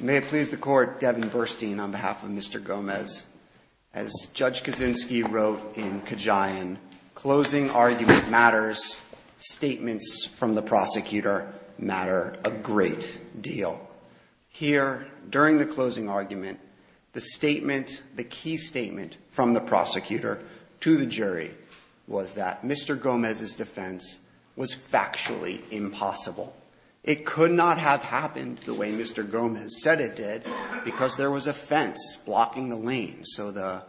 May it please the court, Devin Burstein on behalf of Mr. Gomez. As Judge Kaczynski wrote in Kajayan, closing argument matters, statements from the prosecutor matter a great deal. Here, during the closing argument, the statement, the key statement from the prosecutor to the jury was that Mr. Gomez's defense was factually impossible. It could not have happened the way Mr. Gomez said it did because there was a fence blocking the lane so the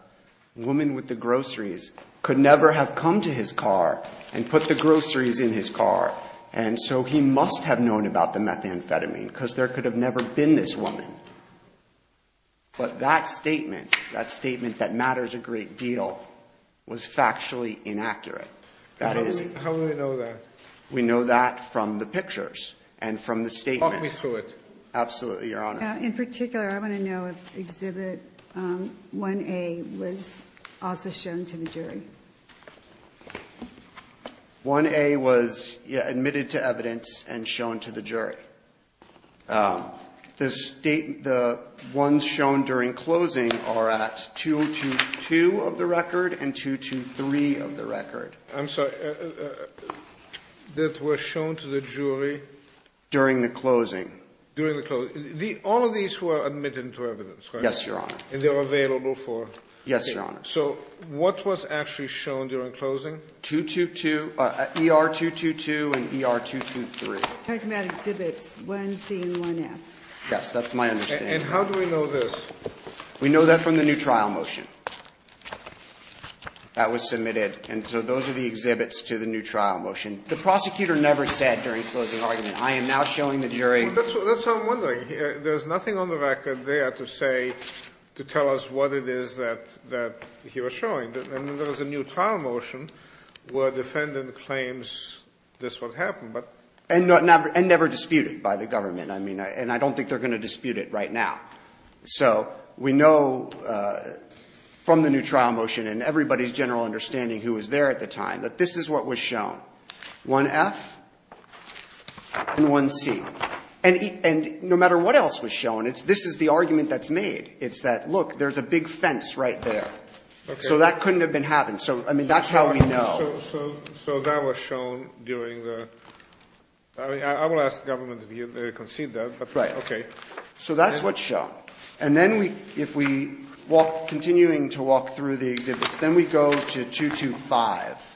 woman with the groceries could never have come to his car and put the groceries in his car and so he must have known about the methamphetamine because there could have never been this woman. But that statement that matters a great deal was factually inaccurate. That is. How do we know that? We know that from the pictures and from the statement. Talk me through it. Absolutely, Your Honor. In particular, I want to know if Exhibit 1A was also shown to the jury. 1A was admitted to evidence and shown to the jury. The ones shown during closing are at 222 of the record and 223 of the record. I'm sorry. That were shown to the jury? During the closing. During the closing. All of these were admitted to evidence, right? Yes, Your Honor. And they were available for? Yes, Your Honor. So what was actually shown during closing? 222, ER 222 and ER 223. Tachymed Exhibits 1C and 1F. Yes, that's my understanding. And how do we know this? We know that from the new trial motion that was submitted. And so those are the exhibits to the new trial motion. The prosecutor never said during closing argument, I am now showing the jury. That's what I'm wondering. There's nothing on the record there to say, to tell us what it is that he was showing. And there was a new trial motion where a defendant claims this is what happened. And never disputed by the government. I mean, and I don't think they're going to dispute it right now. So we know from the new trial motion and everybody's general understanding who was there at the time, that this is what was shown. 1F and 1C. And no matter what else was shown, this is the argument that's made. It's that, look, there's a big fence right there. So that couldn't have been happened. So, I mean, that's how we know. So that was shown during the, I mean, I will ask the government to concede that. Right. Okay. So that's what's shown. And then we, if we walk, continuing to walk through the exhibits, then we go to 225.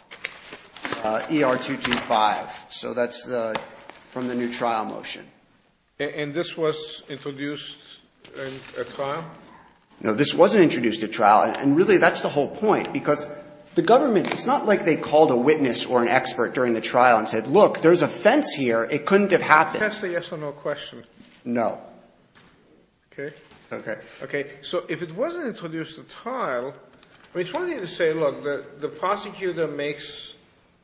ER 225. So that's the, from the new trial motion. And this was introduced in a trial? No, this wasn't introduced at trial. And really, that's the whole point. Because the government, it's not like they called a witness or an expert during the trial and said, look, there's a fence here. It couldn't have happened. Can I ask a yes or no question? No. Okay. Okay. Okay. So if it wasn't introduced at trial, I mean, it's one thing to say, look, the prosecutor makes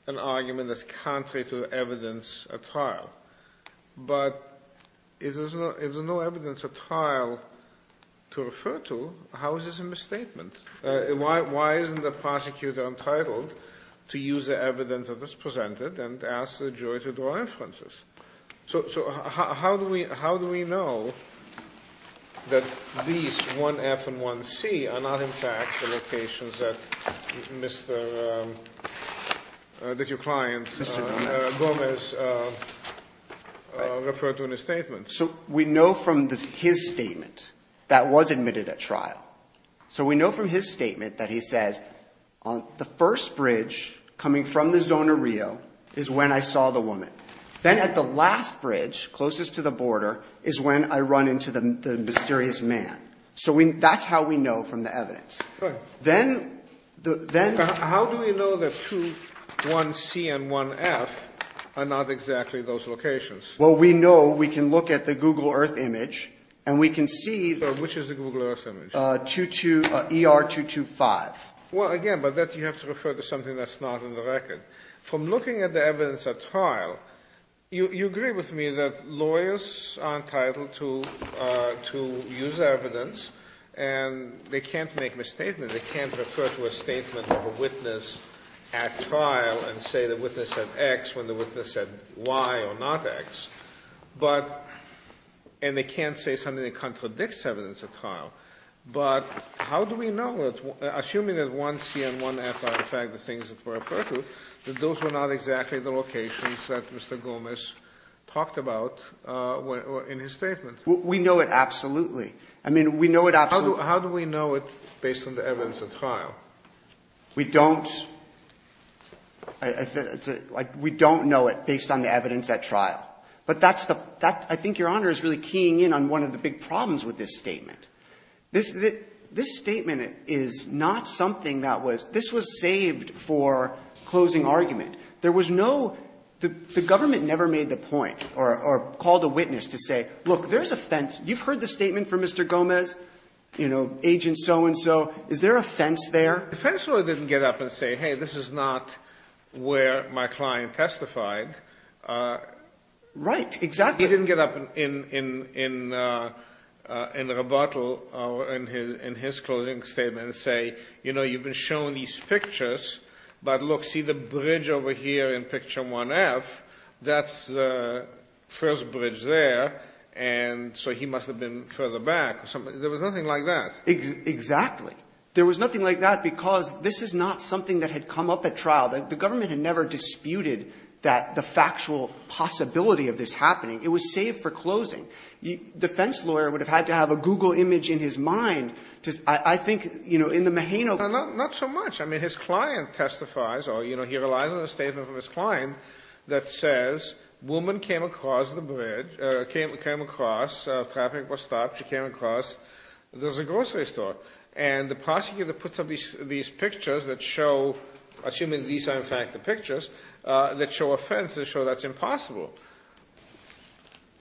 an argument that's contrary to evidence at trial. But if there's no evidence at trial to refer to, how is this a misstatement? Why isn't the prosecutor entitled to use the evidence that was presented and ask the jury to draw inferences? So how do we know that these 1F and 1C are not in fact the locations that Mr., that your client, Gomez, referred to in his statement? So we know from his statement that was admitted at trial. So we know from his statement that he says, the first bridge coming from the Zona Rio is when I saw the woman. Then at the last bridge, closest to the border, is when I run into the mysterious man. So that's how we know from the evidence. Then- How do we know that 2, 1C and 1F are not exactly those locations? Well, we know we can look at the Google Earth image and we can see- Which is the Google Earth image? ER 225. Well, again, but that you have to refer to something that's not in the record. From looking at the evidence at trial, you agree with me that lawyers are entitled to use evidence. And they can't make misstatements, they can't refer to a statement of a witness at trial and say the witness said X when the witness said Y or not X. But, and they can't say something that contradicts evidence at trial. But how do we know that, assuming that 1C and 1F are in fact the things that were referred to, that those were not exactly the locations that Mr. Gomes talked about in his statement? We know it absolutely. I mean, we know it absolutely. How do we know it based on the evidence at trial? We don't, we don't know it based on the evidence at trial. But that's the, I think your honor is really keying in on one of the big problems with this statement. This statement is not something that was, this was saved for closing argument. There was no, the government never made the point or called a witness to say, look, there's a fence. You've heard the statement from Mr. Gomez, agent so and so, is there a fence there? The fence lawyer didn't get up and say, hey, this is not where my client testified. Right, exactly. He didn't get up in rebuttal in his closing statement and say, you know, you've been shown these pictures. But look, see the bridge over here in picture 1F, that's the first bridge there. And so he must have been further back or something. There was nothing like that. Exactly. There was nothing like that because this is not something that had come up at trial. The government had never disputed that, the factual possibility of this happening. It was saved for closing. The fence lawyer would have had to have a Google image in his mind to, I think, in the Mahano. Not so much. I mean, his client testifies, or he relies on a statement from his client that says, woman came across the bridge, came across, traffic was stopped, she came across. There's a grocery store. And the prosecutor puts up these pictures that show, assuming these are, in fact, the pictures, that show a fence to show that's impossible.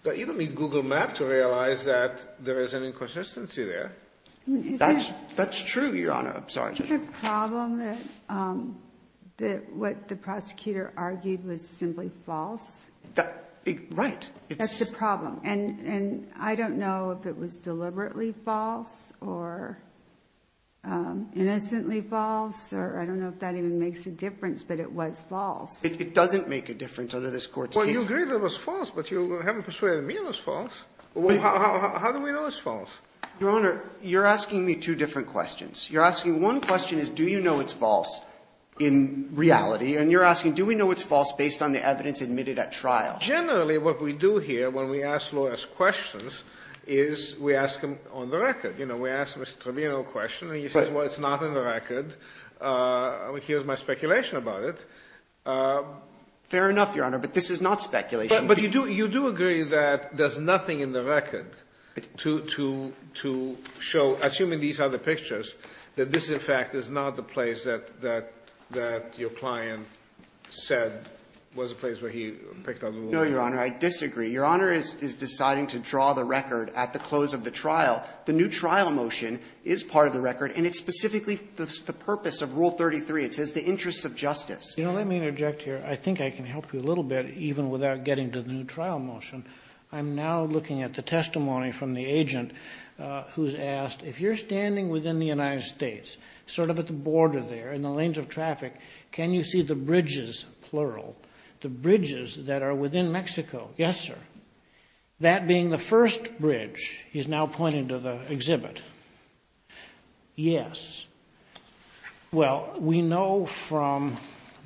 But you don't need Google Maps to realize that there is an inconsistency there. That's true, Your Honor. I'm sorry. Isn't the problem that what the prosecutor argued was simply false? That, right. That's the problem. And I don't know if it was deliberately false or innocently false, or I don't know if that even makes a difference, but it was false. It doesn't make a difference under this court's case. Well, you agree that it was false, but you haven't persuaded me it was false. Well, how do we know it's false? Your Honor, you're asking me two different questions. You're asking, one question is, do you know it's false in reality? And you're asking, do we know it's false based on the evidence admitted at trial? Generally, what we do here, when we ask lawyers questions, is we ask them on the record. We ask Mr. Trevino a question, and he says, well, it's not in the record, and here's my speculation about it. Fair enough, Your Honor, but this is not speculation. But you do agree that there's nothing in the record to show, assuming these are the pictures, that this, in fact, is not the place that your client said was a place where he picked up the weapon? No, Your Honor, I disagree. Your Honor is deciding to draw the record at the close of the trial. The new trial motion is part of the record, and it's specifically the purpose of Rule 33. It says the interests of justice. You know, let me interject here. I think I can help you a little bit, even without getting to the new trial motion. I'm now looking at the testimony from the agent who's asked, if you're standing within the United States, sort of at the border there, in the lanes of traffic, can you see the bridges, plural, the bridges that are within Mexico? Yes, sir. That being the first bridge, he's now pointing to the exhibit. Yes. Well, we know from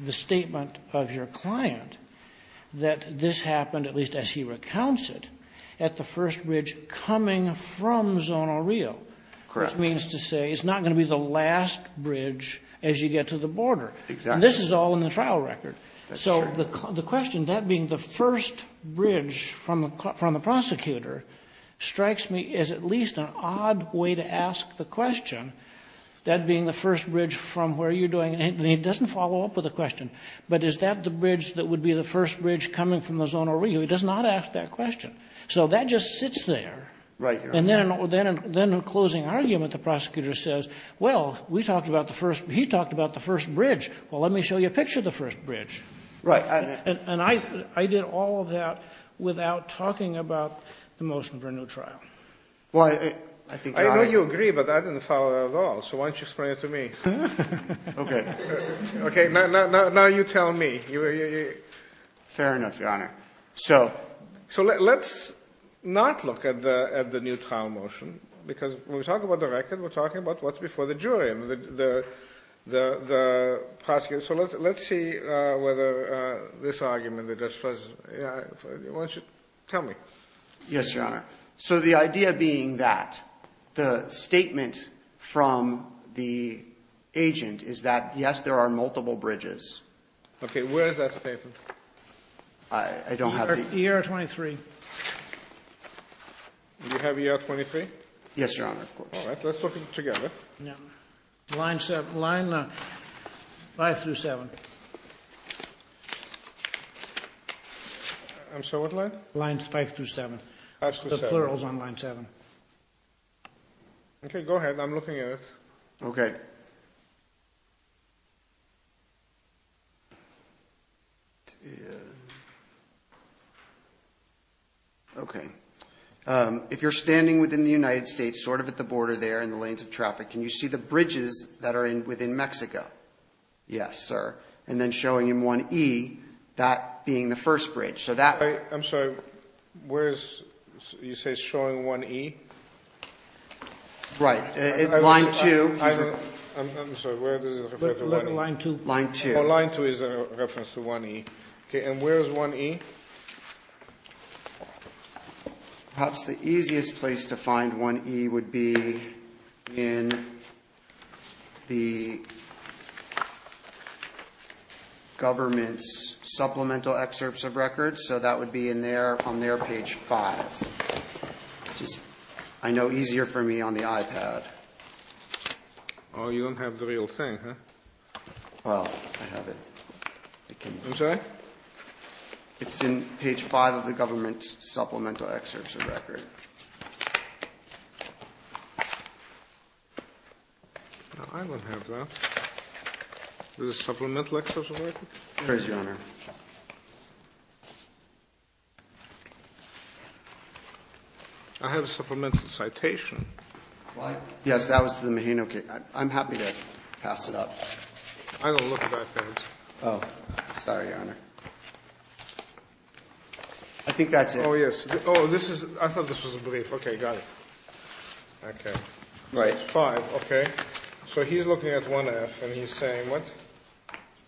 the statement of your client that this happened, at least as he recounts it, at the first bridge coming from Zona Rio. Correct. Which means to say it's not going to be the last bridge as you get to the border. Exactly. And this is all in the trial record. That's true. So the question, that being the first bridge from the prosecutor, strikes me as at least an odd way to ask the question, that being the first bridge from where you're doing, and he doesn't follow up with a question, but is that the bridge that would be the first bridge coming from the Zona Rio? So that just sits there. Right, Your Honor. And then, in a closing argument, the prosecutor says, well, we talked about the first, he talked about the first bridge, well, let me show you a picture of the first bridge. Right. And I did all of that without talking about the motion for a new trial. Well, I think, Your Honor. I know you agree, but I didn't follow it at all, so why don't you explain it to me? Okay. Okay, now you tell me. Fair enough, Your Honor. So let's not look at the new trial motion, because when we talk about the record, we're talking about what's before the jury and the prosecutor. So let's see whether this argument that just was, why don't you tell me? Yes, Your Honor. So the idea being that the statement from the agent is that, yes, there are multiple bridges. Okay, where is that statement? I don't have it. ER 23. Do you have ER 23? Yes, Your Honor, of course. All right, let's look at it together. Yeah. Line five through seven. I'm sorry, what line? Line five through seven. Five through seven. The plural's on line seven. Okay, go ahead, I'm looking at it. Okay. Okay, if you're standing within the United States, sort of at the border there in the lanes of traffic, can you see the bridges that are within Mexico? Yes, sir. And then showing in 1E, that being the first bridge, so that- I'm sorry, where is, you say showing 1E? Right, line two. I'm sorry, where does it refer to? Line two. Line two. Line two is a reference to 1E. Okay, and where is 1E? Perhaps the easiest place to find 1E would be in the government's supplemental excerpts of records, so that would be on their page five. Which is, I know, easier for me on the iPad. Oh, you don't have the real thing, huh? Well, I have it. I'm sorry? It's in page five of the government's supplemental excerpts of record. I don't have that. Is it supplemental excerpts of records? Praise the Honor. I have a supplemental citation. Yes, that was to the Maheno case. I'm happy to pass it up. I don't look at that page. Oh, sorry, Your Honor. I think that's it. Oh, yes. Oh, this is, I thought this was a brief. Okay, got it. Okay. Right. Five, okay. So he's looking at 1F and he's saying what?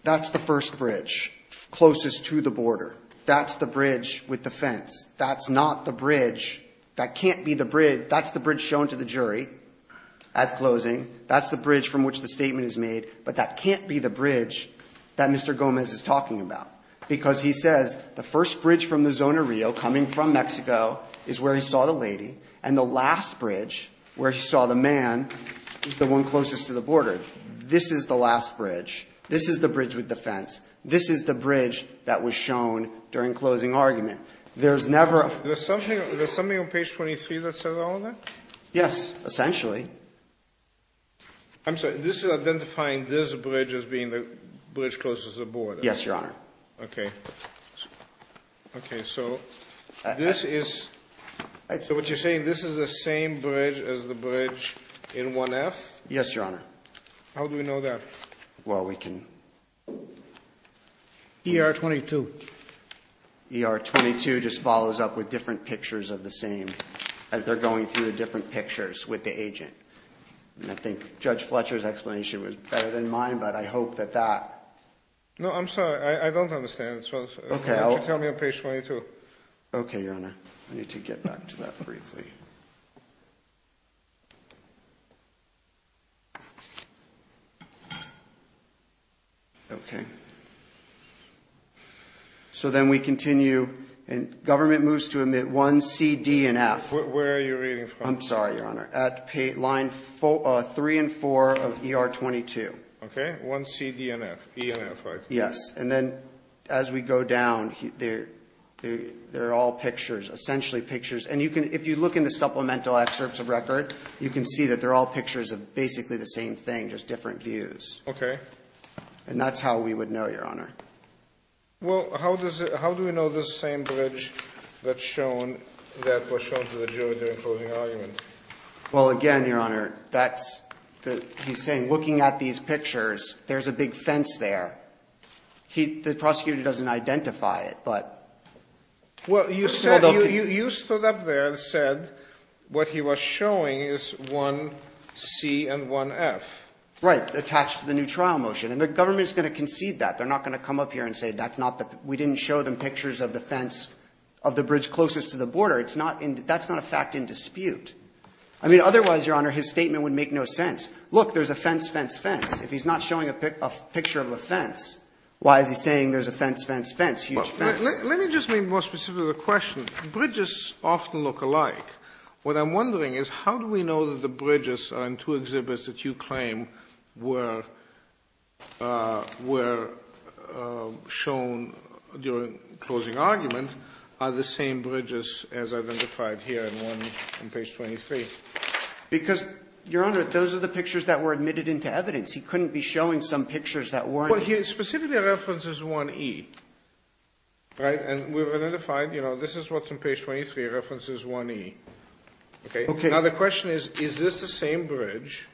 That's the first bridge closest to the border. That's the bridge with the fence. That's not the bridge. That can't be the bridge. That's the bridge shown to the jury at closing. That's the bridge from which the statement is made. But that can't be the bridge that Mr. Gomez is talking about. Because he says the first bridge from the zone of Rio coming from Mexico is where he saw the lady. And the last bridge where he saw the man is the one closest to the border. This is the last bridge. This is the bridge with the fence. This is the bridge that was shown during closing argument. There's never a- There's something on page 23 that says all of that? Yes, essentially. I'm sorry, this is identifying this bridge as being the bridge closest to the border. Yes, your honor. Okay. Okay, so this is, so what you're saying, this is the same bridge as the bridge in 1F? Yes, your honor. How do we know that? Well, we can- ER 22. ER 22 just follows up with different pictures of the same as they're going through the different pictures with the agent. And I think Judge Fletcher's explanation was better than mine, but I hope that that- No, I'm sorry, I don't understand. It's just- Okay, I'll- You can tell me on page 22. Okay, your honor. I need to get back to that briefly. Okay. So then we continue, and government moves to admit 1C, D, and F. Where are you reading from? I'm sorry, your honor. At line 3 and 4 of ER 22. Okay, 1C, D, and F. E and F, right? Yes, and then as we go down, they're all pictures, essentially pictures. And if you look in the supplemental excerpts of record, you can see that they're all pictures of basically the same thing, just different views. Okay. And that's how we would know, your honor. Well, how do we know the same bridge that was shown to the jury during closing argument? Well, again, your honor, he's saying looking at these pictures, there's a big fence there. The prosecutor doesn't identify it, but- Well, you stood up there and said what he was showing is 1C and 1F. Right, attached to the new trial motion. And the government's going to concede that. They're not going to come up here and say that's not the, we didn't show them pictures of the fence, of the bridge closest to the border. It's not, that's not a fact in dispute. I mean, otherwise, your honor, his statement would make no sense. Look, there's a fence, fence, fence. If he's not showing a picture of a fence, why is he saying there's a fence, fence, fence, huge fence? Let me just be more specific with the question. Bridges often look alike. What I'm wondering is how do we know that the bridges on two exhibits that you claim were, were shown during closing argument are the same bridges as identified here in 1, on page 23? Because, your honor, those are the pictures that were admitted into evidence. He couldn't be showing some pictures that weren't. Well, here, specifically, reference is 1E. Right? And we've identified, you know, this is what's on page 23, reference is 1E. Okay? Now, the question is, is this the same bridge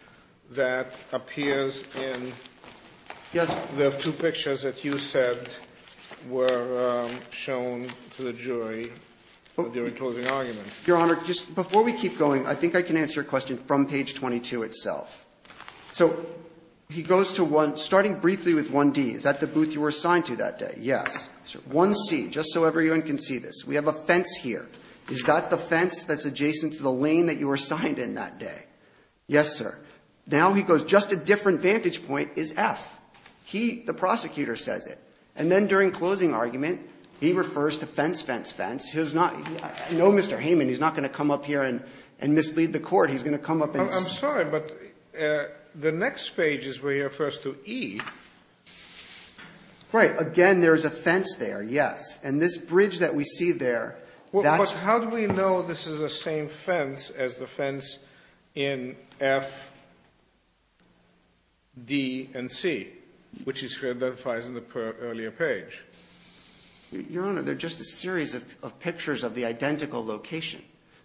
that appears in the two pictures that you said were shown to the jury during closing argument? Your honor, just before we keep going, I think I can answer your question from page 22 itself. So he goes to 1, starting briefly with 1D, is that the booth you were assigned to that day? Yes. 1C, just so everyone can see this, we have a fence here. Is that the fence that's adjacent to the lane that you were assigned in that day? Yes, sir. Now he goes, just a different vantage point is F. He, the prosecutor, says it. And then during closing argument, he refers to fence, fence, fence. He's not, no, Mr. Hayman, he's not going to come up here and, and mislead the court. He's going to come up and say. I'm sorry, but the next page is where he refers to E. Right. Again, there's a fence there, yes. And this bridge that we see there, that's. But how do we know this is the same fence as the fence in F, D, and C, which he identifies in the earlier page? Your honor, they're just a series of pictures of the identical location.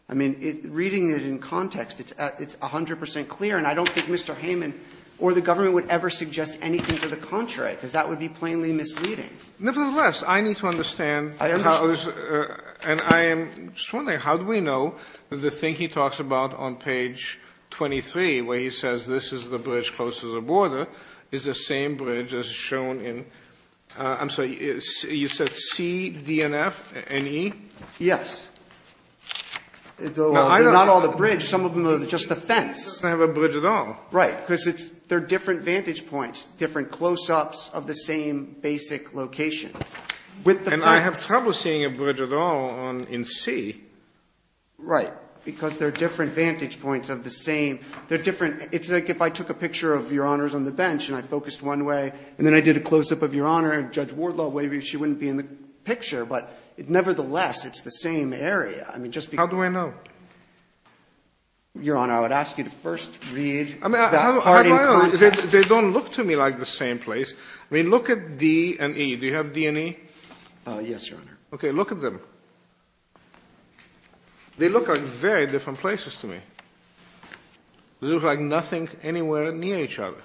I mean, reading it in context, it's 100 percent clear. And I don't think Mr. Hayman or the government would ever suggest anything to the contrary, because that would be plainly misleading. Nevertheless, I need to understand. I understand. And I am just wondering, how do we know the thing he talks about on page 23, where he says this is the bridge close to the border, is the same bridge as shown in, I'm sorry, you said C, D, and F, and E? Yes. Though not all the bridge, some of them are just the fence. They don't have a bridge at all. Right. Because it's, they're different vantage points, different close-ups of the same basic location, with the fence. And I have trouble seeing a bridge at all in C. Right. Because they're different vantage points of the same, they're different. It's like if I took a picture of Your Honors on the bench, and I focused one way, and then I did a close-up of Your Honor, and Judge Wardlaw wavered, she wouldn't be in the picture. But nevertheless, it's the same area. I mean, just because. How do I know? Your Honor, I would ask you to first read that part in context. They don't look to me like the same place. I mean, look at D and E. Do you have D and E? Yes, Your Honor. OK, look at them. They look like very different places to me. They look like nothing anywhere near each other.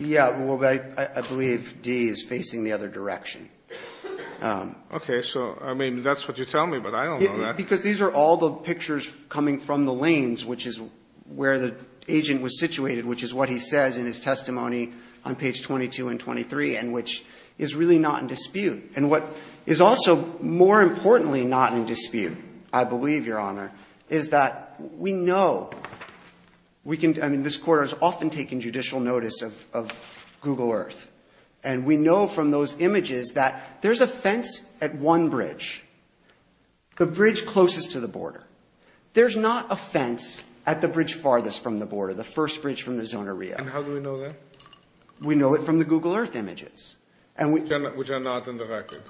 Yeah, well, I believe D is facing the other direction. OK, so I mean, that's what you're telling me, but I don't know that. Because these are all the pictures coming from the lanes, which is where the agent was situated, which is what he says in his testimony on page 22 and 23, and which is really not in dispute. And what is also, more importantly, not in dispute, I believe, Your Honor, is that we know we can, I mean, this court has often taken judicial notice of Google Earth. And we know from those images that there's a fence at one bridge. The bridge closest to the border. There's not a fence at the bridge farthest from the border, the first bridge from the Zona Rio. And how do we know that? We know it from the Google Earth images. Which are not in the record.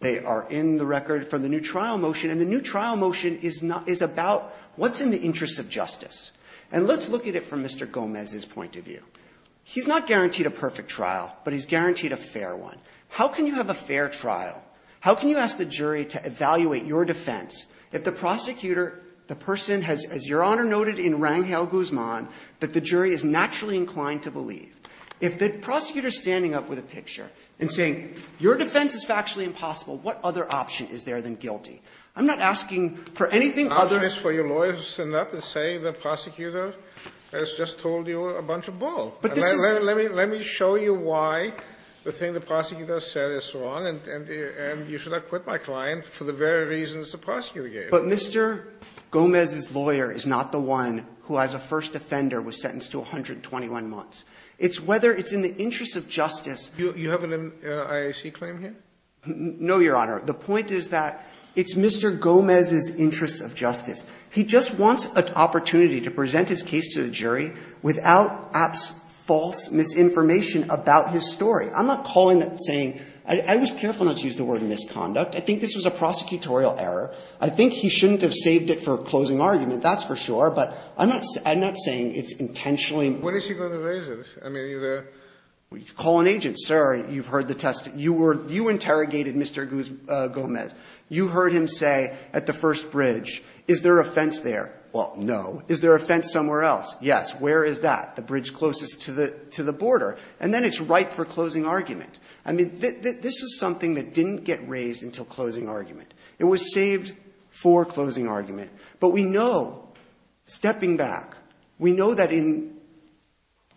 They are in the record from the new trial motion. And the new trial motion is about what's in the interests of justice. And let's look at it from Mr. Gomez's point of view. He's not guaranteed a perfect trial, but he's guaranteed a fair one. How can you have a fair trial? How can you ask the jury to evaluate your defense if the prosecutor, the person has, as Your Honor noted in Rangel-Guzman, that the jury is naturally inclined to believe? If the prosecutor is standing up with a picture and saying, your defense is factually impossible, what other option is there than guilty? I'm not asking for anything other- Sotomayor, for your lawyers to stand up and say the prosecutor has just told you a bunch of bull. Let me show you why the thing the prosecutor said is wrong. And you should not quit my client for the very reasons the prosecutor gave. But Mr. Gomez's lawyer is not the one who, as a first offender, was sentenced to 121 months. It's whether it's in the interest of justice- You have an IAC claim here? No, Your Honor. The point is that it's Mr. Gomez's interest of justice. He just wants an opportunity to present his case to the jury without false misinformation about his story. I'm not calling that saying – I was careful not to use the word misconduct. I think this was a prosecutorial error. I think he shouldn't have saved it for a closing argument, that's for sure. But I'm not saying it's intentionally- When is he going to raise it? I mean, are you there? Call an agent. Sir, you've heard the testimony. You were – you interrogated Mr. Gomez. You heard him say at the first bridge, is there a fence there? Well, no. Is there a fence somewhere else? Yes. Where is that? The bridge closest to the border. And then it's right for a closing argument. I mean, this is something that didn't get raised until closing argument. It was saved for closing argument. But we know, stepping back, we know that in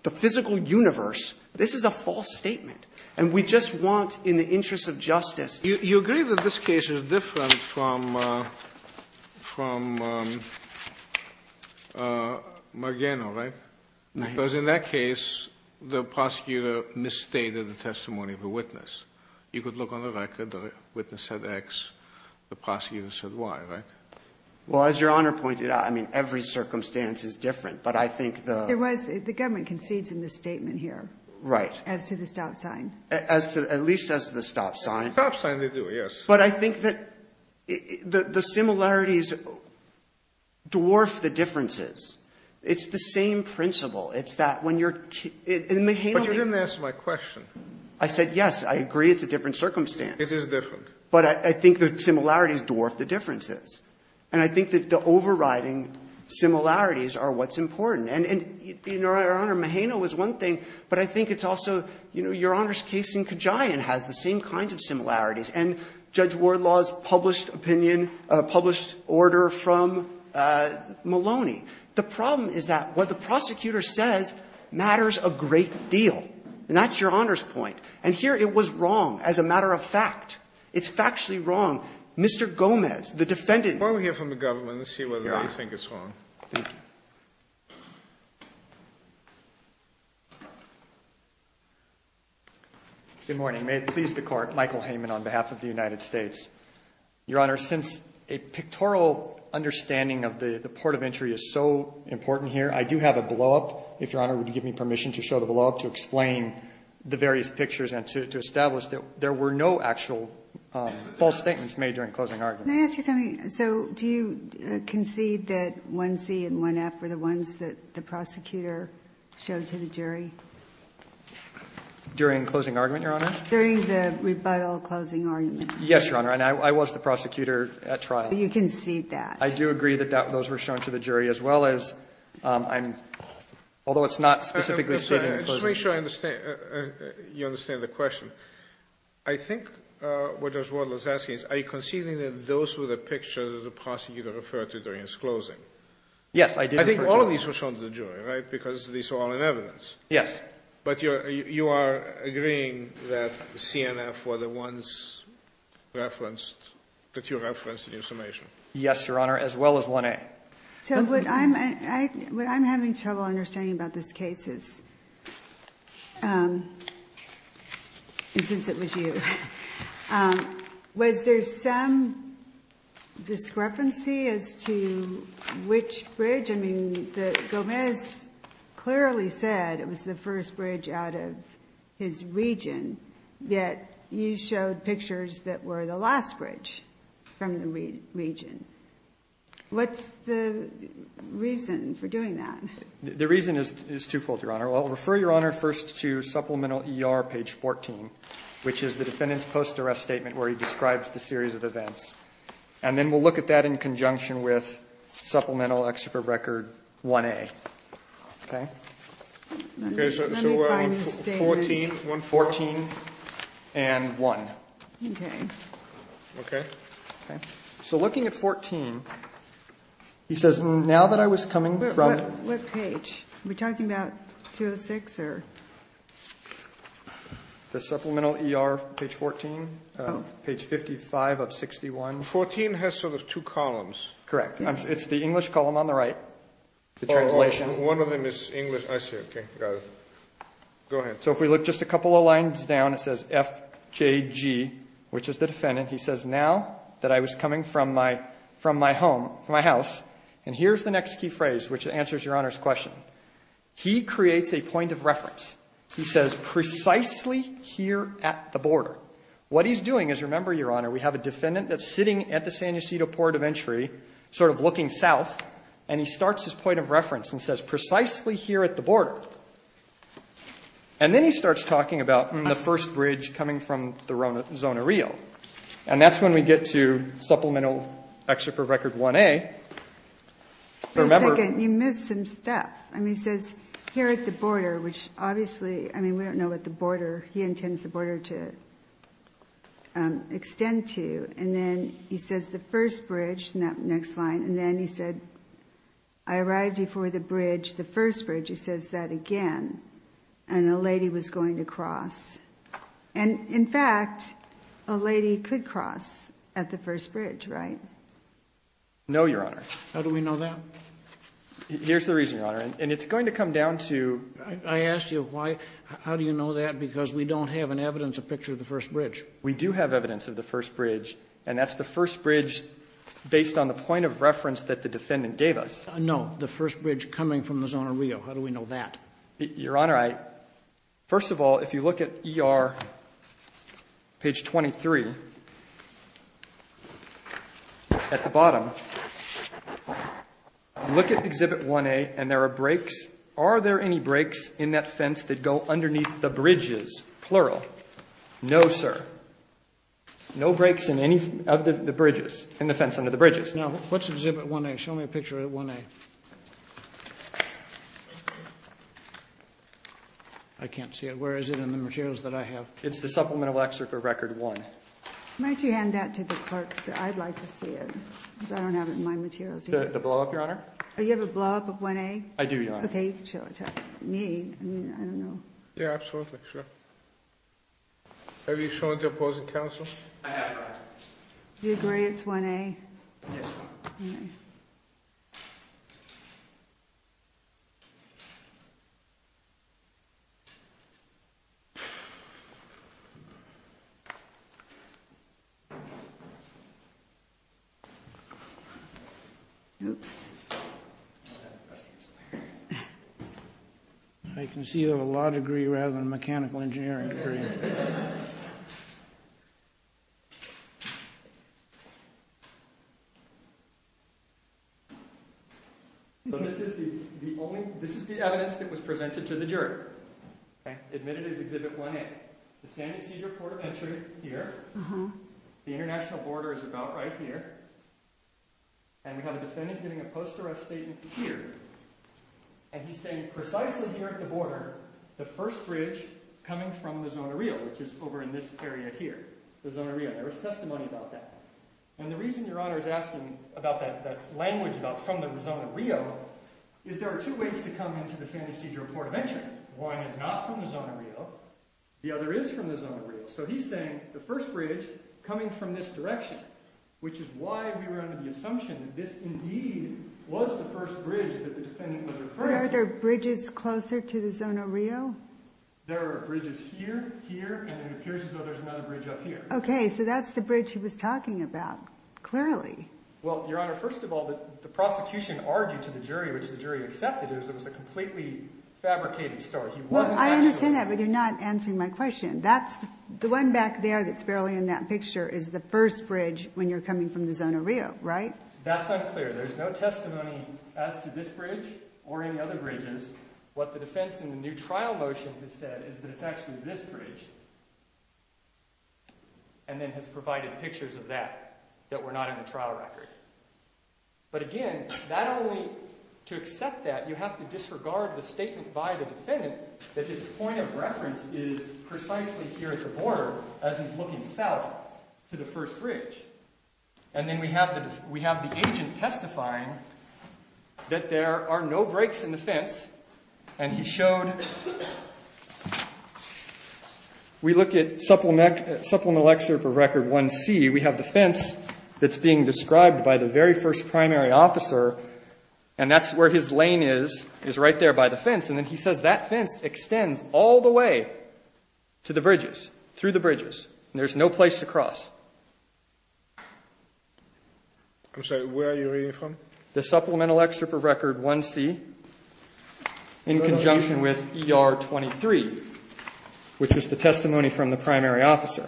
the physical universe, this is a false statement, and we just want in the interest of justice- You agree that this case is different from – from Magano, right? Right. Because in that case, the prosecutor misstated the testimony of a witness. You could look on the record, the witness said X, the prosecutor said Y, right? Well, as Your Honor pointed out, I mean, every circumstance is different. But I think the- There was – the government concedes a misstatement here. Right. As to the stop sign. As to – at least as to the stop sign. The stop sign they do, yes. But I think that the similarities dwarf the differences. It's the same principle. It's that when you're – in Magano- But you didn't answer my question. I said, yes, I agree it's a different circumstance. It is different. But I think the similarities dwarf the differences. And I think that the overriding similarities are what's important. And, Your Honor, Magano was one thing, but I think it's also, you know, Your Honor's case in Kajian has the same kinds of similarities. And Judge Wardlaw's published opinion, published order from Maloney. The problem is that what the prosecutor says matters a great deal. And that's Your Honor's point. And here it was wrong as a matter of fact. It's factually wrong. Mr. Gomez, the defendant- Before we hear from the government, let's see whether they think it's wrong. Thank you. Good morning. May it please the Court. Michael Heyman on behalf of the United States. Your Honor, since a pictorial understanding of the port of entry is so important here, I do have a blow-up, if Your Honor would give me permission to show the blow-up to explain the various pictures and to establish that there were no actual false statements made during closing argument. Can I ask you something? So do you concede that 1C and 1F were the ones that the prosecutor showed to the jury? During closing argument, Your Honor? During the rebuttal closing argument. Yes, Your Honor. And I was the prosecutor at trial. You concede that. I do agree that those were shown to the jury as well as I'm-although it's not specifically stated in the closing argument. Just to make sure you understand the question. I think what Judge Wardle is asking is are you conceding that those were the pictures that the prosecutor referred to during his closing? Yes, I did refer to- I think all of these were shown to the jury, right, because these are all in evidence. Yes. But you are agreeing that the CNF were the ones referenced, that you referenced in your summation? Yes, Your Honor, as well as 1A. So what I'm having trouble understanding about this case is, and since it was you, was there some discrepancy as to which bridge? I mean, Gomez clearly said it was the first bridge out of his region, yet you showed pictures that were the last bridge from the region. What's the reason for doing that? The reason is twofold, Your Honor. I'll refer, Your Honor, first to Supplemental ER, page 14, which is the defendant's post-arrest statement where he describes the series of events. And then we'll look at that in conjunction with Supplemental Ex Super Record 1A. Okay? Let me find the statements. So 114 and 1. Okay. Okay? Okay. So looking at 14, he says, now that I was coming from- What page? Are we talking about 206, or? The Supplemental ER, page 14. Oh. Page 55 of 61. 14 has sort of two columns. Correct. It's the English column on the right, the translation. One of them is English. I see. Okay. Got it. Go ahead. So if we look just a couple of lines down, it says FKG, which is the defendant. He says, now that I was coming from my home, from my house. And here's the next key phrase, which answers Your Honor's question. He creates a point of reference. He says, precisely here at the border. What he's doing is, remember, Your Honor, we have a defendant that's sitting at the San Ysidro Port of Entry, sort of looking south, and he starts his point of reference and says, precisely here at the border. And then he starts talking about the first bridge coming from the zone of Rio. And that's when we get to Supplemental Excerpt of Record 1A. For a second, you missed some stuff. I mean, he says, here at the border, which obviously, I mean, we don't know what the extent to. And then he says, the first bridge, next line. And then he said, I arrived before the bridge, the first bridge. He says that again. And a lady was going to cross. And in fact, a lady could cross at the first bridge, right? No, Your Honor. How do we know that? Here's the reason, Your Honor. And it's going to come down to. I asked you, how do you know that? Because we don't have an evidence of picture of the first bridge. We do have evidence of the first bridge. And that's the first bridge based on the point of reference that the defendant gave us. No. The first bridge coming from the zone of Rio. How do we know that? Your Honor, I. First of all, if you look at ER page 23, at the bottom, look at Exhibit 1A, and there is no picture of the first bridge. No, sir. No breaks in any of the bridges, in the fence under the bridges. Now, what's Exhibit 1A? Show me a picture of 1A. I can't see it. Where is it in the materials that I have? It's the Supplemental Excerpt for Record 1. Might you hand that to the clerk, sir? I'd like to see it. Because I don't have it in my materials. The blow-up, Your Honor? You have a blow-up of 1A? I do, Your Honor. Okay, you can show it to me. I mean, I don't know. Yeah, absolutely, sure. Have you shown it to opposing counsel? I have, Your Honor. Do you agree it's 1A? Yes, Your Honor. Okay. Oops. I can see you have a law degree rather than a mechanical engineering degree. So this is the evidence that was presented to the jury, admitted as Exhibit 1A. The San Ysidro Port of Entry is here. The international border is about right here. And we have a defendant giving a post-arrest statement here. And he's saying, precisely here at the border, the first bridge coming from the Zona Rio, which is over in this area here, the Zona Rio. There is testimony about that. And the reason Your Honor is asking about that language about from the Zona Rio is there are two ways to come into the San Ysidro Port of Entry. One is not from the Zona Rio. The other is from the Zona Rio. So he's saying the first bridge coming from this direction, which is why we were under the assumption that this indeed was the first bridge that the defendant was referring to. Are there bridges closer to the Zona Rio? There are bridges here, here, and it appears as though there's another bridge up here. Okay. So that's the bridge he was talking about, clearly. Well, Your Honor, first of all, the prosecution argued to the jury, which the jury accepted, is it was a completely fabricated story. Well, I understand that, but you're not answering my question. The one back there that's barely in that picture is the first bridge when you're coming from the Zona Rio, right? That's unclear. There's no testimony as to this bridge or any other bridges. What the defense in the new trial motion has said is that it's actually this bridge and then has provided pictures of that, that were not in the trial record. But again, not only to accept that, you have to disregard the statement by the defendant that his point of reference is precisely here at the border, as he's looking south to the first bridge. And then we have the agent testifying that there are no breaks in the fence. And he showed, we look at Supplemental Excerpt of Record 1C, we have the fence that's being described by the very first primary officer, and that's where his lane is, is right there by the fence. And then he says that fence extends all the way to the bridges, through the bridges, and there's no place to cross. I'm sorry, where are you reading from? The Supplemental Excerpt of Record 1C, in conjunction with ER 23, which is the testimony from the primary officer.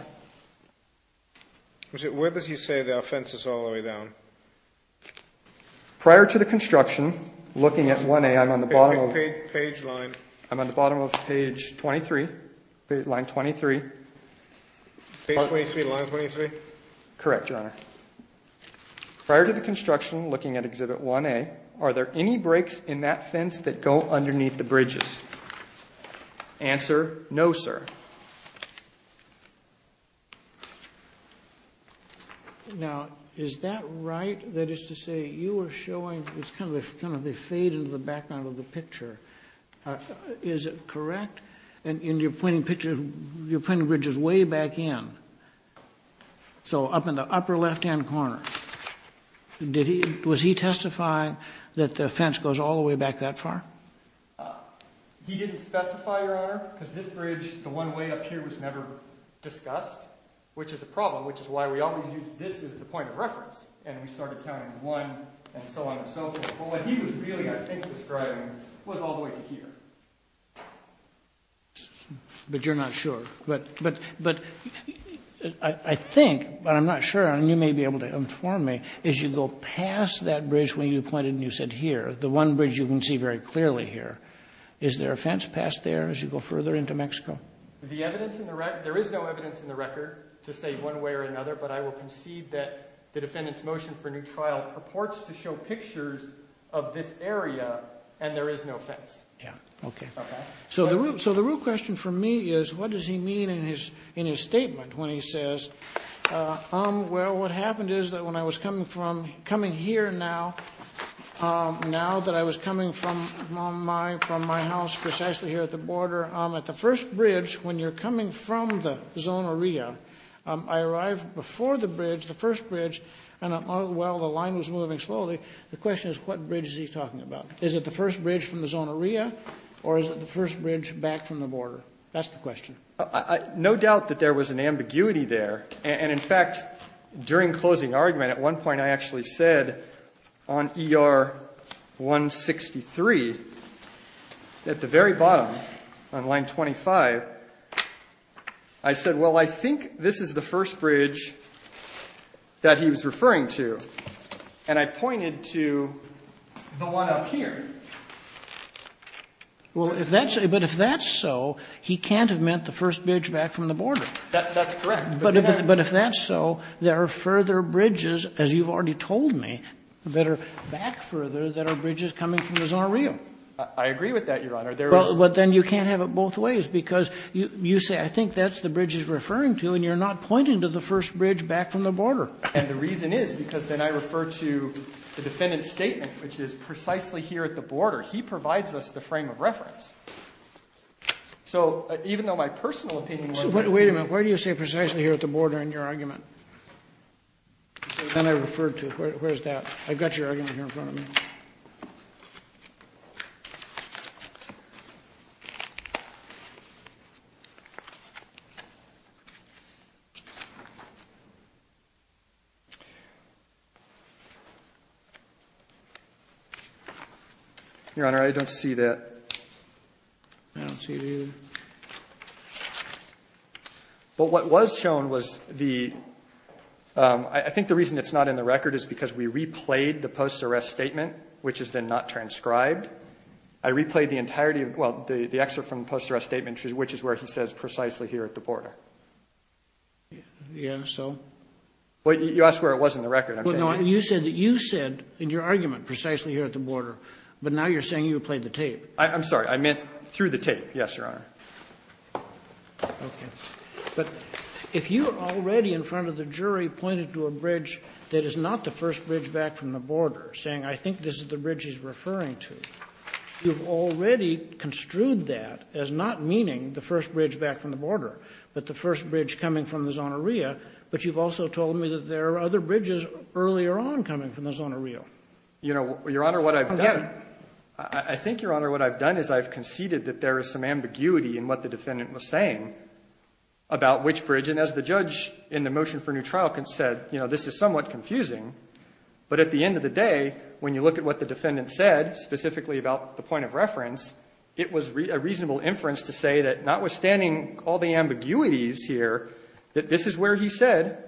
Where does he say there are fences all the way down? Prior to the construction, looking at 1A, I'm on the bottom of the page. Page line. I'm on the bottom of page 23, line 23. Page 23, line 23? Correct, Your Honor. Prior to the construction, looking at Exhibit 1A, are there any breaks in that fence that go underneath the bridges? Answer, no, sir. Now, is that right? That is to say, you are showing, it's kind of the fade into the background of the picture. All right. Is it correct? And you're pointing pictures, you're pointing bridges way back in. So up in the upper left-hand corner. Was he testifying that the fence goes all the way back that far? He didn't specify, Your Honor, because this bridge, the one way up here, was never discussed, which is a problem, which is why we always use this as the point of reference. And we started counting one and so on and so forth. But what he was really, I think, describing was all the way to here. But you're not sure. But I think, but I'm not sure, and you may be able to inform me, as you go past that bridge where you pointed and you said here, the one bridge you can see very clearly here, is there a fence past there as you go further into Mexico? There is no evidence in the record to say one way or another, but I will concede that the defendant's motion for a new trial purports to show pictures of this area, and there is no fence. Yeah, okay. So the real question for me is, what does he mean in his statement when he says, well, what happened is that when I was coming here now, now that I was coming from my house, precisely here at the border, at the first bridge, when you're coming from the Zona Ria, I arrived before the bridge, the first bridge, and while the line was moving slowly, the question is, what bridge is he talking about? Is it the first bridge from the Zona Ria, or is it the first bridge back from the border? That's the question. No doubt that there was an ambiguity there. And in fact, during closing argument, at one point I actually said, on ER 163, at the very bottom, on line 25, I said, well, I think this is the first bridge that he was referring to. And I pointed to the one up here. Well, if that's so, he can't have meant the first bridge back from the border. That's correct. But if that's so, there are further bridges, as you've already told me, that are back further, that are bridges coming from the Zona Ria. I agree with that, Your Honor. But then you can't have it both ways, because you say, I think that's the bridge he's referring to, and you're not pointing to the first bridge back from the border. And the reason is, because then I refer to the defendant's statement, which is precisely here at the border. He provides us the frame of reference. So even though my personal opinion was— Wait a minute. Why do you say precisely here at the border in your argument? Then I referred to it. Where's that? I've got your argument here in front of me. Okay. Your Honor, I don't see that. I don't see it either. But what was shown was the—I think the reason it's not in the record is because we replayed the post-arrest statement, which is then not transcribed. I replayed the entirety of—well, the excerpt from the post-arrest statement, which is where he says precisely here at the border. Yeah, so? Well, you asked where it was in the record. Well, no, you said that you said in your argument precisely here at the border, but now you're saying you replayed the tape. I'm sorry. I meant through the tape, yes, Your Honor. Okay. But if you already in front of the jury pointed to a bridge that is not the first bridge back from the border, saying, I think this is the bridge he's referring to, you've already construed that as not meaning the first bridge back from the border, but the first bridge coming from the zoneria, but you've also told me that there are other bridges earlier on coming from the zoneria. You know, Your Honor, what I've done— I get it. I think, Your Honor, what I've done is I've conceded that there is some ambiguity in what the defendant was saying about which bridge. And as the judge in the motion for new trial said, you know, this is somewhat confusing, but at the end of the day, when you look at what the defendant said, specifically about the point of reference, it was a reasonable inference to say that notwithstanding all the ambiguities here, that this is where he said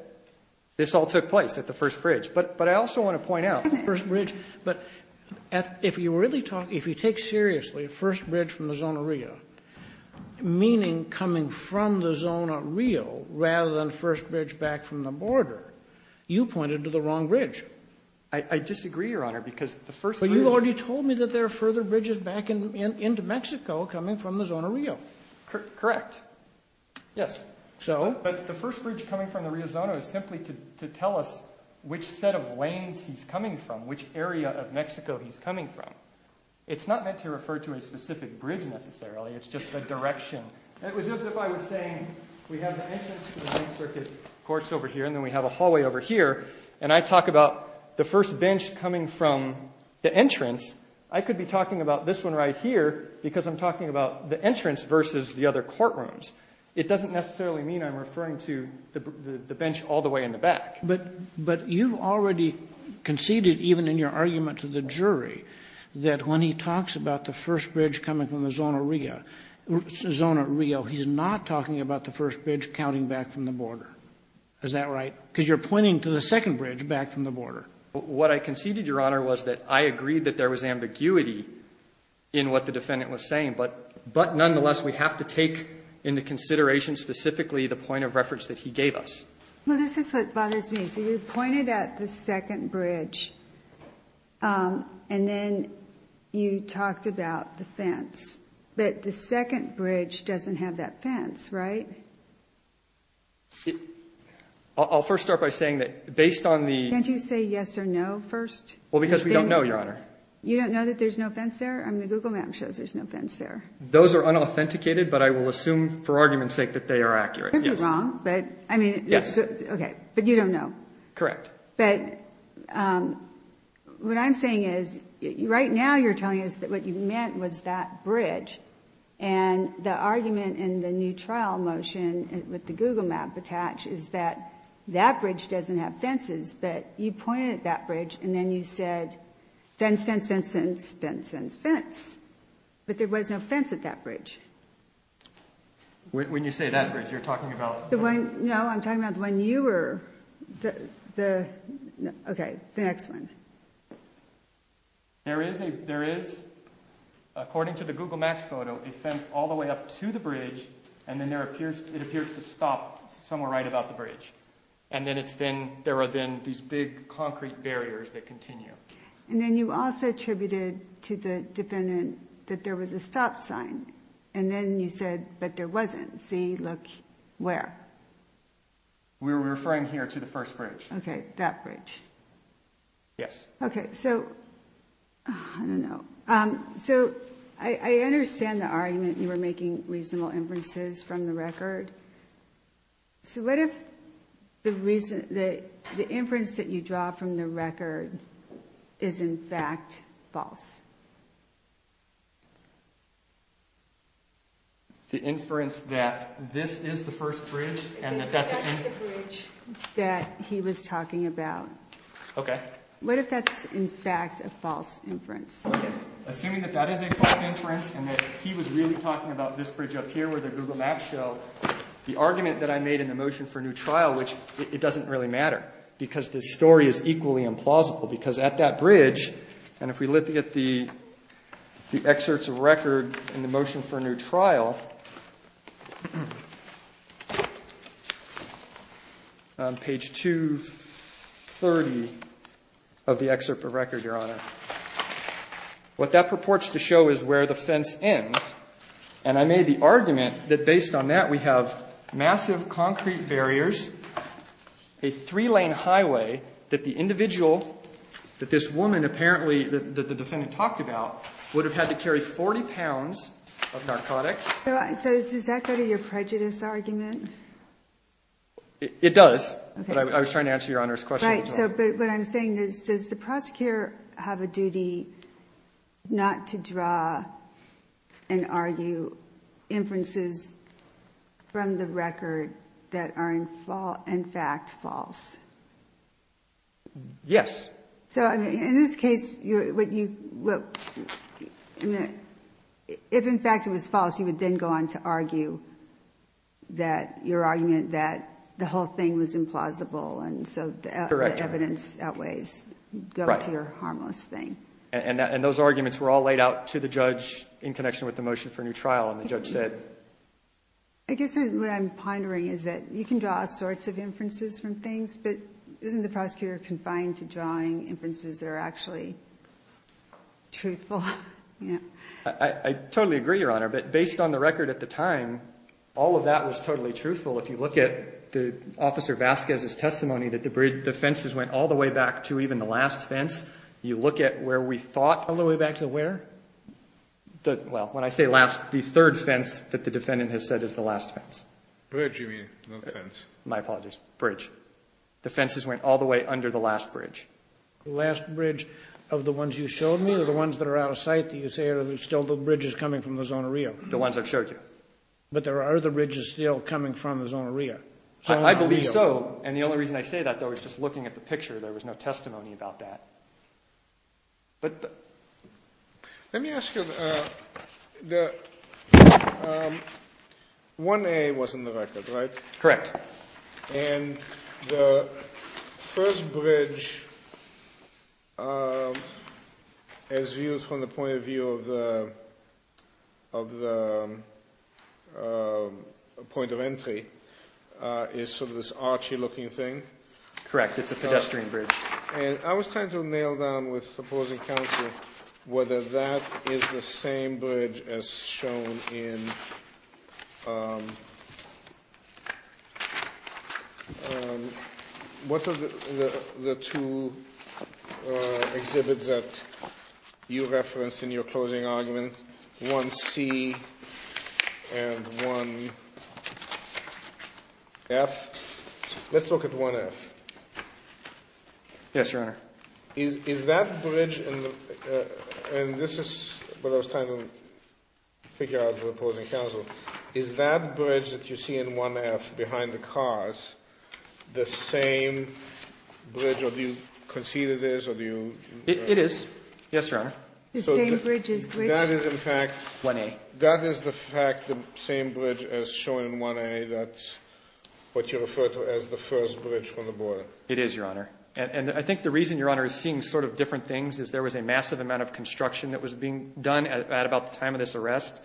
this all took place at the first bridge. But I also want to point out— First bridge. But if you really talk—if you take seriously first bridge from the zoneria, meaning coming from the zoneria rather than first bridge back from the border, you pointed to the wrong bridge. I disagree, Your Honor, because the first bridge— You already told me that there are further bridges back into Mexico coming from the zoneria. Correct. Yes. So? But the first bridge coming from the riozono is simply to tell us which set of lanes he's coming from, which area of Mexico he's coming from. It's not meant to refer to a specific bridge, necessarily. It's just a direction. And it was as if I was saying we have the entrance to the main circuit courts over here, and then we have a hallway over here, and I talk about the first bench coming from the entrance, I could be talking about this one right here because I'm talking about the entrance versus the other courtrooms. It doesn't necessarily mean I'm referring to the bench all the way in the back. But you've already conceded, even in your argument to the jury, that when he talks about the first bridge coming from the zoneria, he's not talking about the first bridge counting back from the border. Is that right? Because you're pointing to the second bridge back from the border. What I conceded, Your Honor, was that I agreed that there was ambiguity in what the defendant was saying. But nonetheless, we have to take into consideration specifically the point of reference that he gave us. Well, this is what bothers me. So you pointed at the second bridge, and then you talked about the fence. But the second bridge doesn't have that fence, right? I'll first start by saying that, based on the... Can't you say yes or no first? Well, because we don't know, Your Honor. You don't know that there's no fence there? I mean, the Google map shows there's no fence there. Those are unauthenticated, but I will assume, for argument's sake, that they are accurate. You could be wrong, but I mean... Yes. Okay. But you don't know? Correct. But what I'm saying is, right now you're telling us that what you meant was that bridge, and the argument in the new trial motion with the Google map attached is that that bridge doesn't have fences. But you pointed at that bridge, and then you said, fence, fence, fence, fence, fence, fence. But there was no fence at that bridge. When you say that bridge, you're talking about... The one... No, I'm talking about the one you were... Okay, the next one. There is, according to the Google maps photo, a fence all the way up to the bridge, and then it appears to stop somewhere right about the bridge. And then it's then, there are then these big concrete barriers that continue. And then you also attributed to the defendant that there was a stop sign, and then you said, but there wasn't. See, look, where? We're referring here to the first bridge. Okay, that bridge. Yes. Okay, so I don't know. So I understand the argument you were making, reasonable inferences from the record. So what if the inference that you draw from the record is, in fact, false? The inference that this is the first bridge, and that that's... That's the bridge that he was talking about. Okay. What if that's, in fact, a false inference? Assuming that that is a false inference, and that he was really talking about this bridge up here where the Google maps show, the argument that I made in the motion for a new trial, which it doesn't really matter, because this story is equally implausible. Because at that bridge, and if we look at the excerpts of record in the motion for a of the excerpt of record, Your Honor, what that purports to show is where the fence ends. And I made the argument that, based on that, we have massive concrete barriers, a three-lane highway that the individual, that this woman, apparently, that the defendant talked about, would have had to carry 40 pounds of narcotics. So does that go to your prejudice argument? It does. But I was trying to answer Your Honor's question. What I'm saying is, does the prosecutor have a duty not to draw and argue inferences from the record that are, in fact, false? Yes. In this case, if, in fact, it was false, you would then go on to argue that your argument that the whole thing was implausible. And so the evidence outweighs your harmless thing. And those arguments were all laid out to the judge in connection with the motion for a new trial. And the judge said... I guess what I'm pondering is that you can draw all sorts of inferences from things, but isn't the prosecutor confined to drawing inferences that are actually truthful? I totally agree, Your Honor. But based on the record at the time, all of that was totally truthful. If you look at the Officer Vasquez's testimony, that the fences went all the way back to even the last fence. You look at where we thought... All the way back to where? Well, when I say last, the third fence that the defendant has said is the last fence. Bridge, you mean, not fence. My apologies. Bridge. The fences went all the way under the last bridge. The last bridge of the ones you showed me, or the ones that are out of sight that you say are still the bridges coming from the Zona Rio? The ones I've showed you. But there are the bridges still coming from the Zona Rio. I believe so. And the only reason I say that, though, is just looking at the picture. There was no testimony about that. But... Let me ask you... 1A was in the record, right? Correct. And the first bridge, as viewed from the point of view of the point of entry, is sort of this archy looking thing. Correct. It's a pedestrian bridge. And I was trying to nail down with supposing counsel whether that is the same bridge as shown in... Um, what are the two exhibits that you referenced in your closing argument? 1C and 1F? Let's look at 1F. Yes, Your Honor. Is that bridge in... And this is what I was trying to figure out with opposing counsel. Is that bridge that you see in 1F behind the cars the same bridge... Or do you concede it is, or do you... It is. Yes, Your Honor. The same bridge as which? That is, in fact... 1A. That is, in fact, the same bridge as shown in 1A. That's what you refer to as the first bridge from the border. It is, Your Honor. And I think the reason, Your Honor, is seeing sort of different things is there was a massive amount of construction that was being done at about the time of this arrest.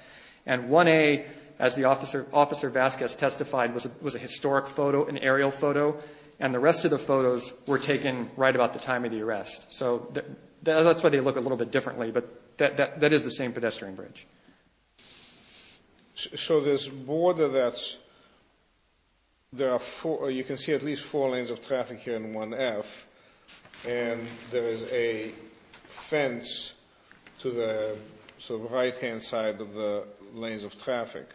And 1A, as the officer Vasquez testified, was a historic photo, an aerial photo. And the rest of the photos were taken right about the time of the arrest. So that's why they look a little bit differently. But that is the same pedestrian bridge. So this border that's... There are four... You can see at least four lanes of traffic here in 1F. And there is a fence to the right-hand side of the lanes of traffic.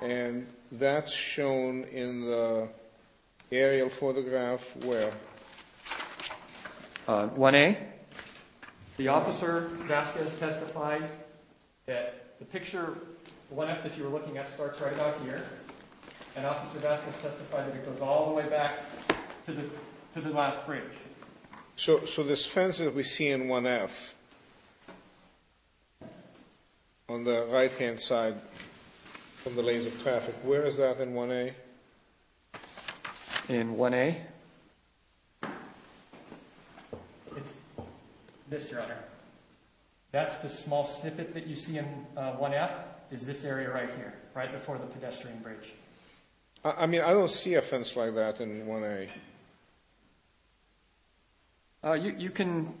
And that's shown in the aerial photograph where... 1A? The officer Vasquez testified that the picture 1F that you were looking at starts right about here. And officer Vasquez testified that it goes all the way back to the last bridge. So this fence that we see in 1F, on the right-hand side from the lanes of traffic, where is that in 1A? In 1A? It's this, Your Honor. That's the small snippet that you see in 1F, is this area right here, right before the pedestrian bridge. I mean, I don't see a fence like that in 1A. You can...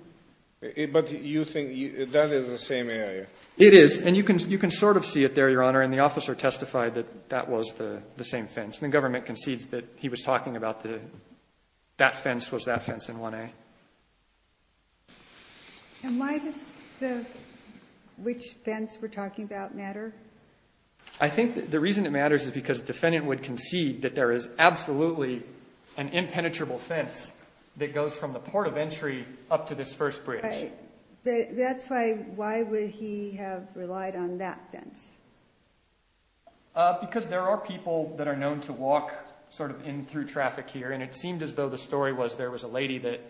But you think that is the same area? It is. And you can sort of see it there, Your Honor. And the officer testified that that was the same fence. And the government concedes that he was talking about that fence was that fence in 1A. And why does the... Which fence we're talking about matter? I think the reason it matters is because the defendant would concede that there is absolutely an impenetrable fence that goes from the port of entry up to this first bridge. That's why... Why would he have relied on that fence? Because there are people that are known to walk sort of in through traffic here. It seemed as though the story was there was a lady that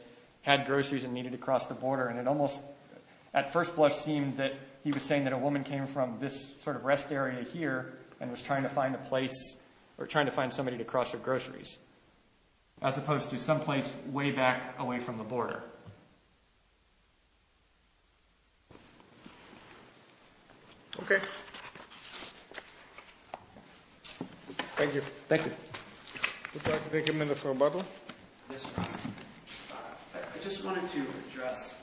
had groceries and needed to cross the border. And it almost, at first blush, seemed that he was saying that a woman came from this sort of rest area here and was trying to find a place or trying to find somebody to cross their groceries, as opposed to someplace way back away from the border. Okay. Thank you. Thank you. Would you like to take a minute for rebuttal? I just wanted to address...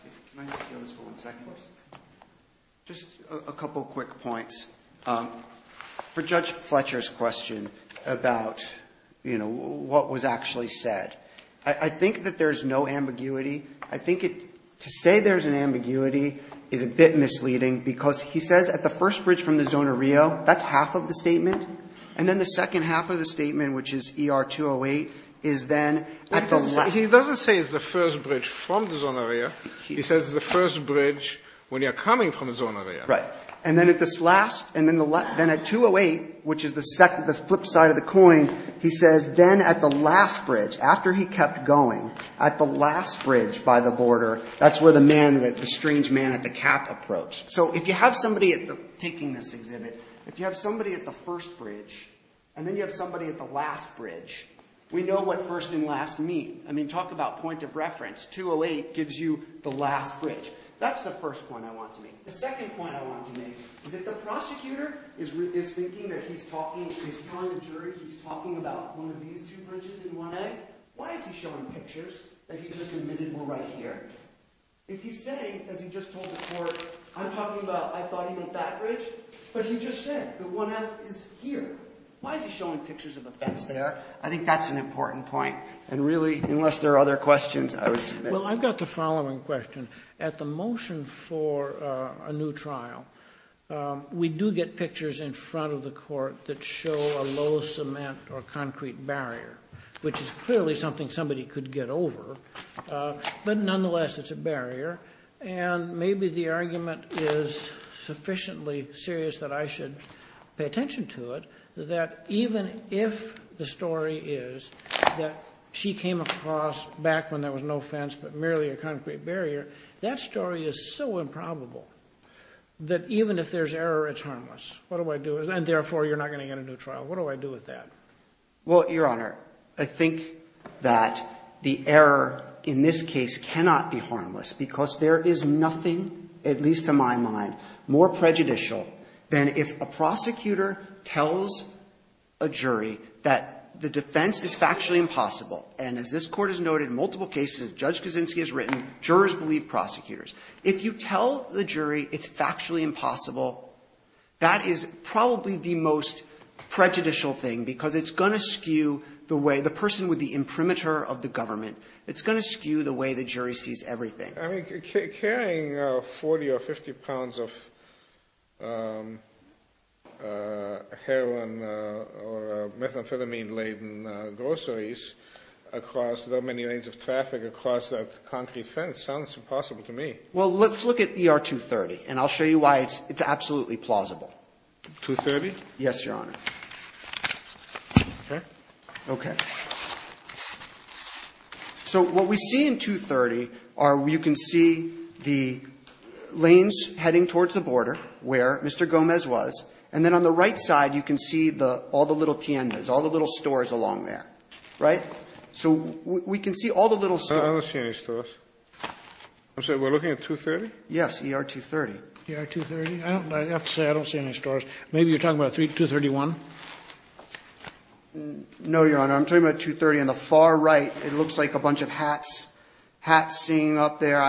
Just a couple of quick points. For Judge Fletcher's question about what was actually said, I think that there's no ambiguity. I think to say there's an ambiguity is a bit misleading because he says at the first bridge from the zone of Rio, that's half of the statement. And then the second half of the statement, which is ER 208, is then... He doesn't say it's the first bridge from the zone of Rio. He says the first bridge when you're coming from the zone of Rio. Right. And then at this last... And then at 208, which is the flip side of the coin, he says then at the last bridge, after he kept going, at the last bridge by the border, that's where the man, the strange man at the cap approached. So if you have somebody taking this exhibit, if you have somebody at the first bridge, and then you have somebody at the last bridge, we know what first and last mean. I mean, talk about point of reference. 208 gives you the last bridge. That's the first point I want to make. The second point I want to make is if the prosecutor is thinking that he's talking, he's telling the jury he's talking about one of these two bridges in 1A, why is he showing pictures that he just admitted were right here? If he's saying, as he just told the court, I'm talking about I thought he meant that bridge, but he just said that 1F is here, why is he showing pictures of a fence there? I think that's an important point. And really, unless there are other questions, I would submit... Well, I've got the following question. At the motion for a new trial, we do get pictures in front of the court that show a low cement or concrete barrier, which is clearly something somebody could get over. But nonetheless, it's a barrier. And maybe the argument is sufficiently serious that I should pay attention to it, that even if the story is that she came across back when there was no fence but merely a concrete barrier, that story is so improbable that even if there's error, it's harmless. What do I do? And therefore, you're not going to get a new trial. What do I do with that? Well, Your Honor, I think that the error in this case cannot be harmless because there is nothing, at least to my mind, more prejudicial than if a prosecutor tells a jury that the defense is factually impossible. And as this court has noted in multiple cases, Judge Kaczynski has written, jurors believe prosecutors. If you tell the jury it's factually impossible, that is probably the most prejudicial thing because it's going to skew the way the person with the imprimatur of the government, it's going to skew the way the jury sees everything. I mean, carrying 40 or 50 pounds of heroin or methamphetamine-laden groceries across that many lanes of traffic across that concrete fence sounds impossible to me. Well, let's look at ER 230, and I'll show you why it's absolutely plausible. 230? Yes, Your Honor. Okay. Okay. So what we see in 230 are you can see the lanes heading towards the border where Mr. Gomez was, and then on the right side you can see the all the little tiendas, all the little stores along there, right? So we can see all the little stores. I don't see any stores. I'm sorry, we're looking at 230? Yes, ER 230. ER 230? I have to say I don't see any stores. Maybe you're talking about 231? No, Your Honor. I'm talking about 230 on the far right. It looks like a bunch of hats seen up there.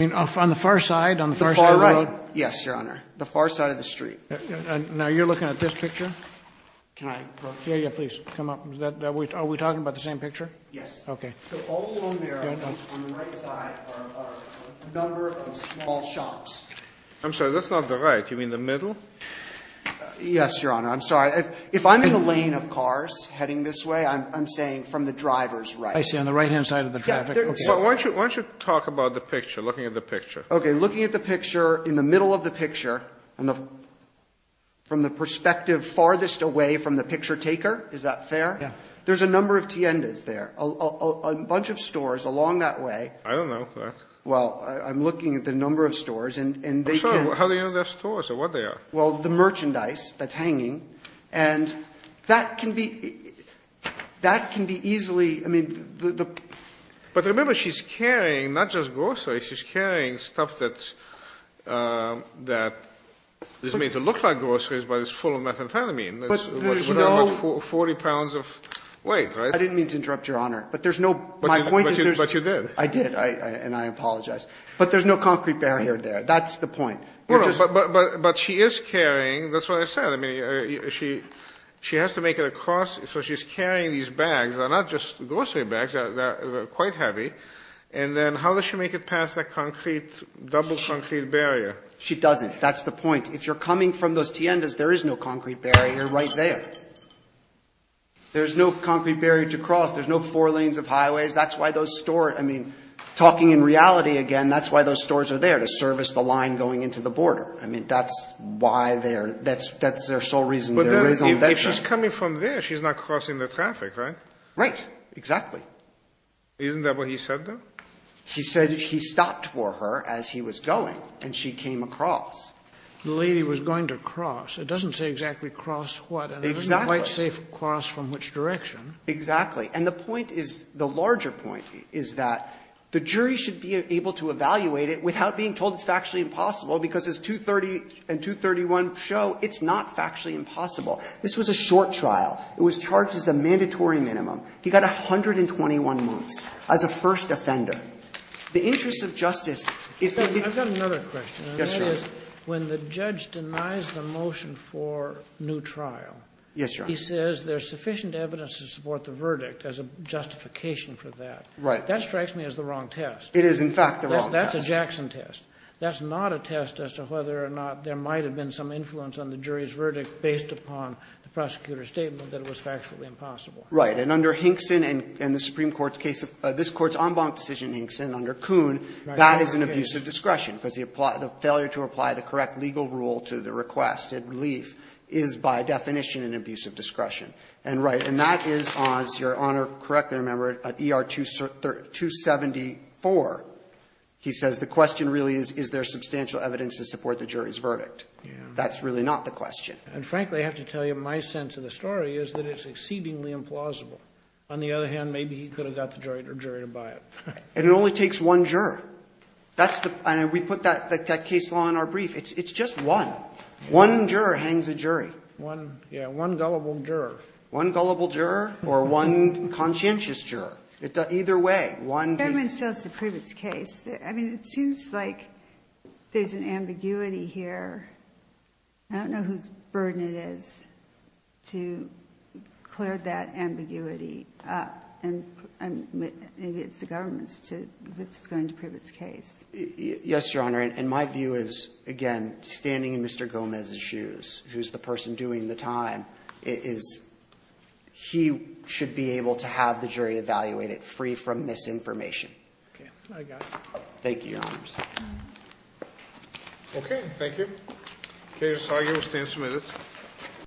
On the far side, on the far side of the road? Yes, Your Honor. The far side of the street. Now you're looking at this picture? Can I go? Yeah, yeah, please come up. Are we talking about the same picture? Yes. Okay. So all along there on the right side are a number of small shops. I'm sorry, that's not the right. You mean the middle? Yes, Your Honor. I'm sorry. If I'm in the lane of cars heading this way, I'm saying from the driver's right. I see, on the right-hand side of the traffic. Why don't you talk about the picture, looking at the picture? Okay, looking at the picture in the middle of the picture from the perspective farthest away from the picture taker. Is that fair? Yeah. There's a number of tiendas there, a bunch of stores along that way. I don't know that. Well, I'm looking at the number of stores and they can... I'm sorry, how do you know they're stores or what they are? Well, the merchandise that's hanging and that can be easily... But remember, she's carrying not just groceries. She's carrying stuff that is made to look like groceries, but it's full of methamphetamine, 40 pounds of weight, right? I didn't mean to interrupt, Your Honor, but there's no... But you did. I did and I apologize, but there's no concrete barrier there. That's the point. But she is carrying, that's what I said. I mean, she has to make it across. So she's carrying these bags. They're not just grocery bags, they're quite heavy. And then how does she make it past that concrete, double concrete barrier? She doesn't. That's the point. If you're coming from those tiendas, there is no concrete barrier right there. There's no concrete barrier to cross. There's no four lanes of highways. That's why those store... I mean, talking in reality again, that's why those stores are there, to service the line going into the border. I mean, that's why they're... That's their sole reason. But if she's coming from there, she's not crossing the traffic, right? Right. Exactly. Isn't that what he said, though? He said he stopped for her as he was going and she came across. The lady was going to cross. It doesn't say exactly cross what. Exactly. It doesn't quite say cross from which direction. Exactly. And the point is, the larger point is that the jury should be able to evaluate it without being told it's factually impossible, because as 230 and 231 show, it's not factually impossible. This was a short trial. It was charged as a mandatory minimum. He got 121 months as a first offender. The interest of justice, if the... I've got another question. Yes, Your Honor. When the judge denies the motion for new trial... Yes, Your Honor. ...he says there's sufficient evidence to support the verdict as a justification for that. Right. That strikes me as the wrong test. It is, in fact, the wrong test. That's a Jackson test. That's not a test as to whether or not there might have been some influence on the jury's verdict based upon the prosecutor's statement that it was factually impossible. Right. And under Hinkson and the Supreme Court's case, this Court's en banc decision, Hinkson, under Kuhn, that is an abuse of discretion, because the failure to apply the correct legal rule to the requested relief is by definition an abuse of discretion. And right. That is, as Your Honor correctly remembered, at ER 274, he says the question really is, is there substantial evidence to support the jury's verdict? Yeah. That's really not the question. And frankly, I have to tell you, my sense of the story is that it's exceedingly implausible. On the other hand, maybe he could have got the jury to buy it. And it only takes one juror. That's the... And we put that case law in our brief. It's just one. One juror hangs a jury. One... Yeah, one gullible juror. One gullible juror or one conscientious juror? Either way, one... The government still has to prove its case. I mean, it seems like there's an ambiguity here. I don't know whose burden it is to clear that ambiguity up. And maybe it's the government's, which is going to prove its case. Yes, Your Honor. And my view is, again, standing in Mr. Gomez's shoes, who's the person doing the is... He should be able to have the jury evaluate it free from misinformation. Okay, I got you. Thank you, Your Honors. Okay, thank you. Case argued, stand submitted.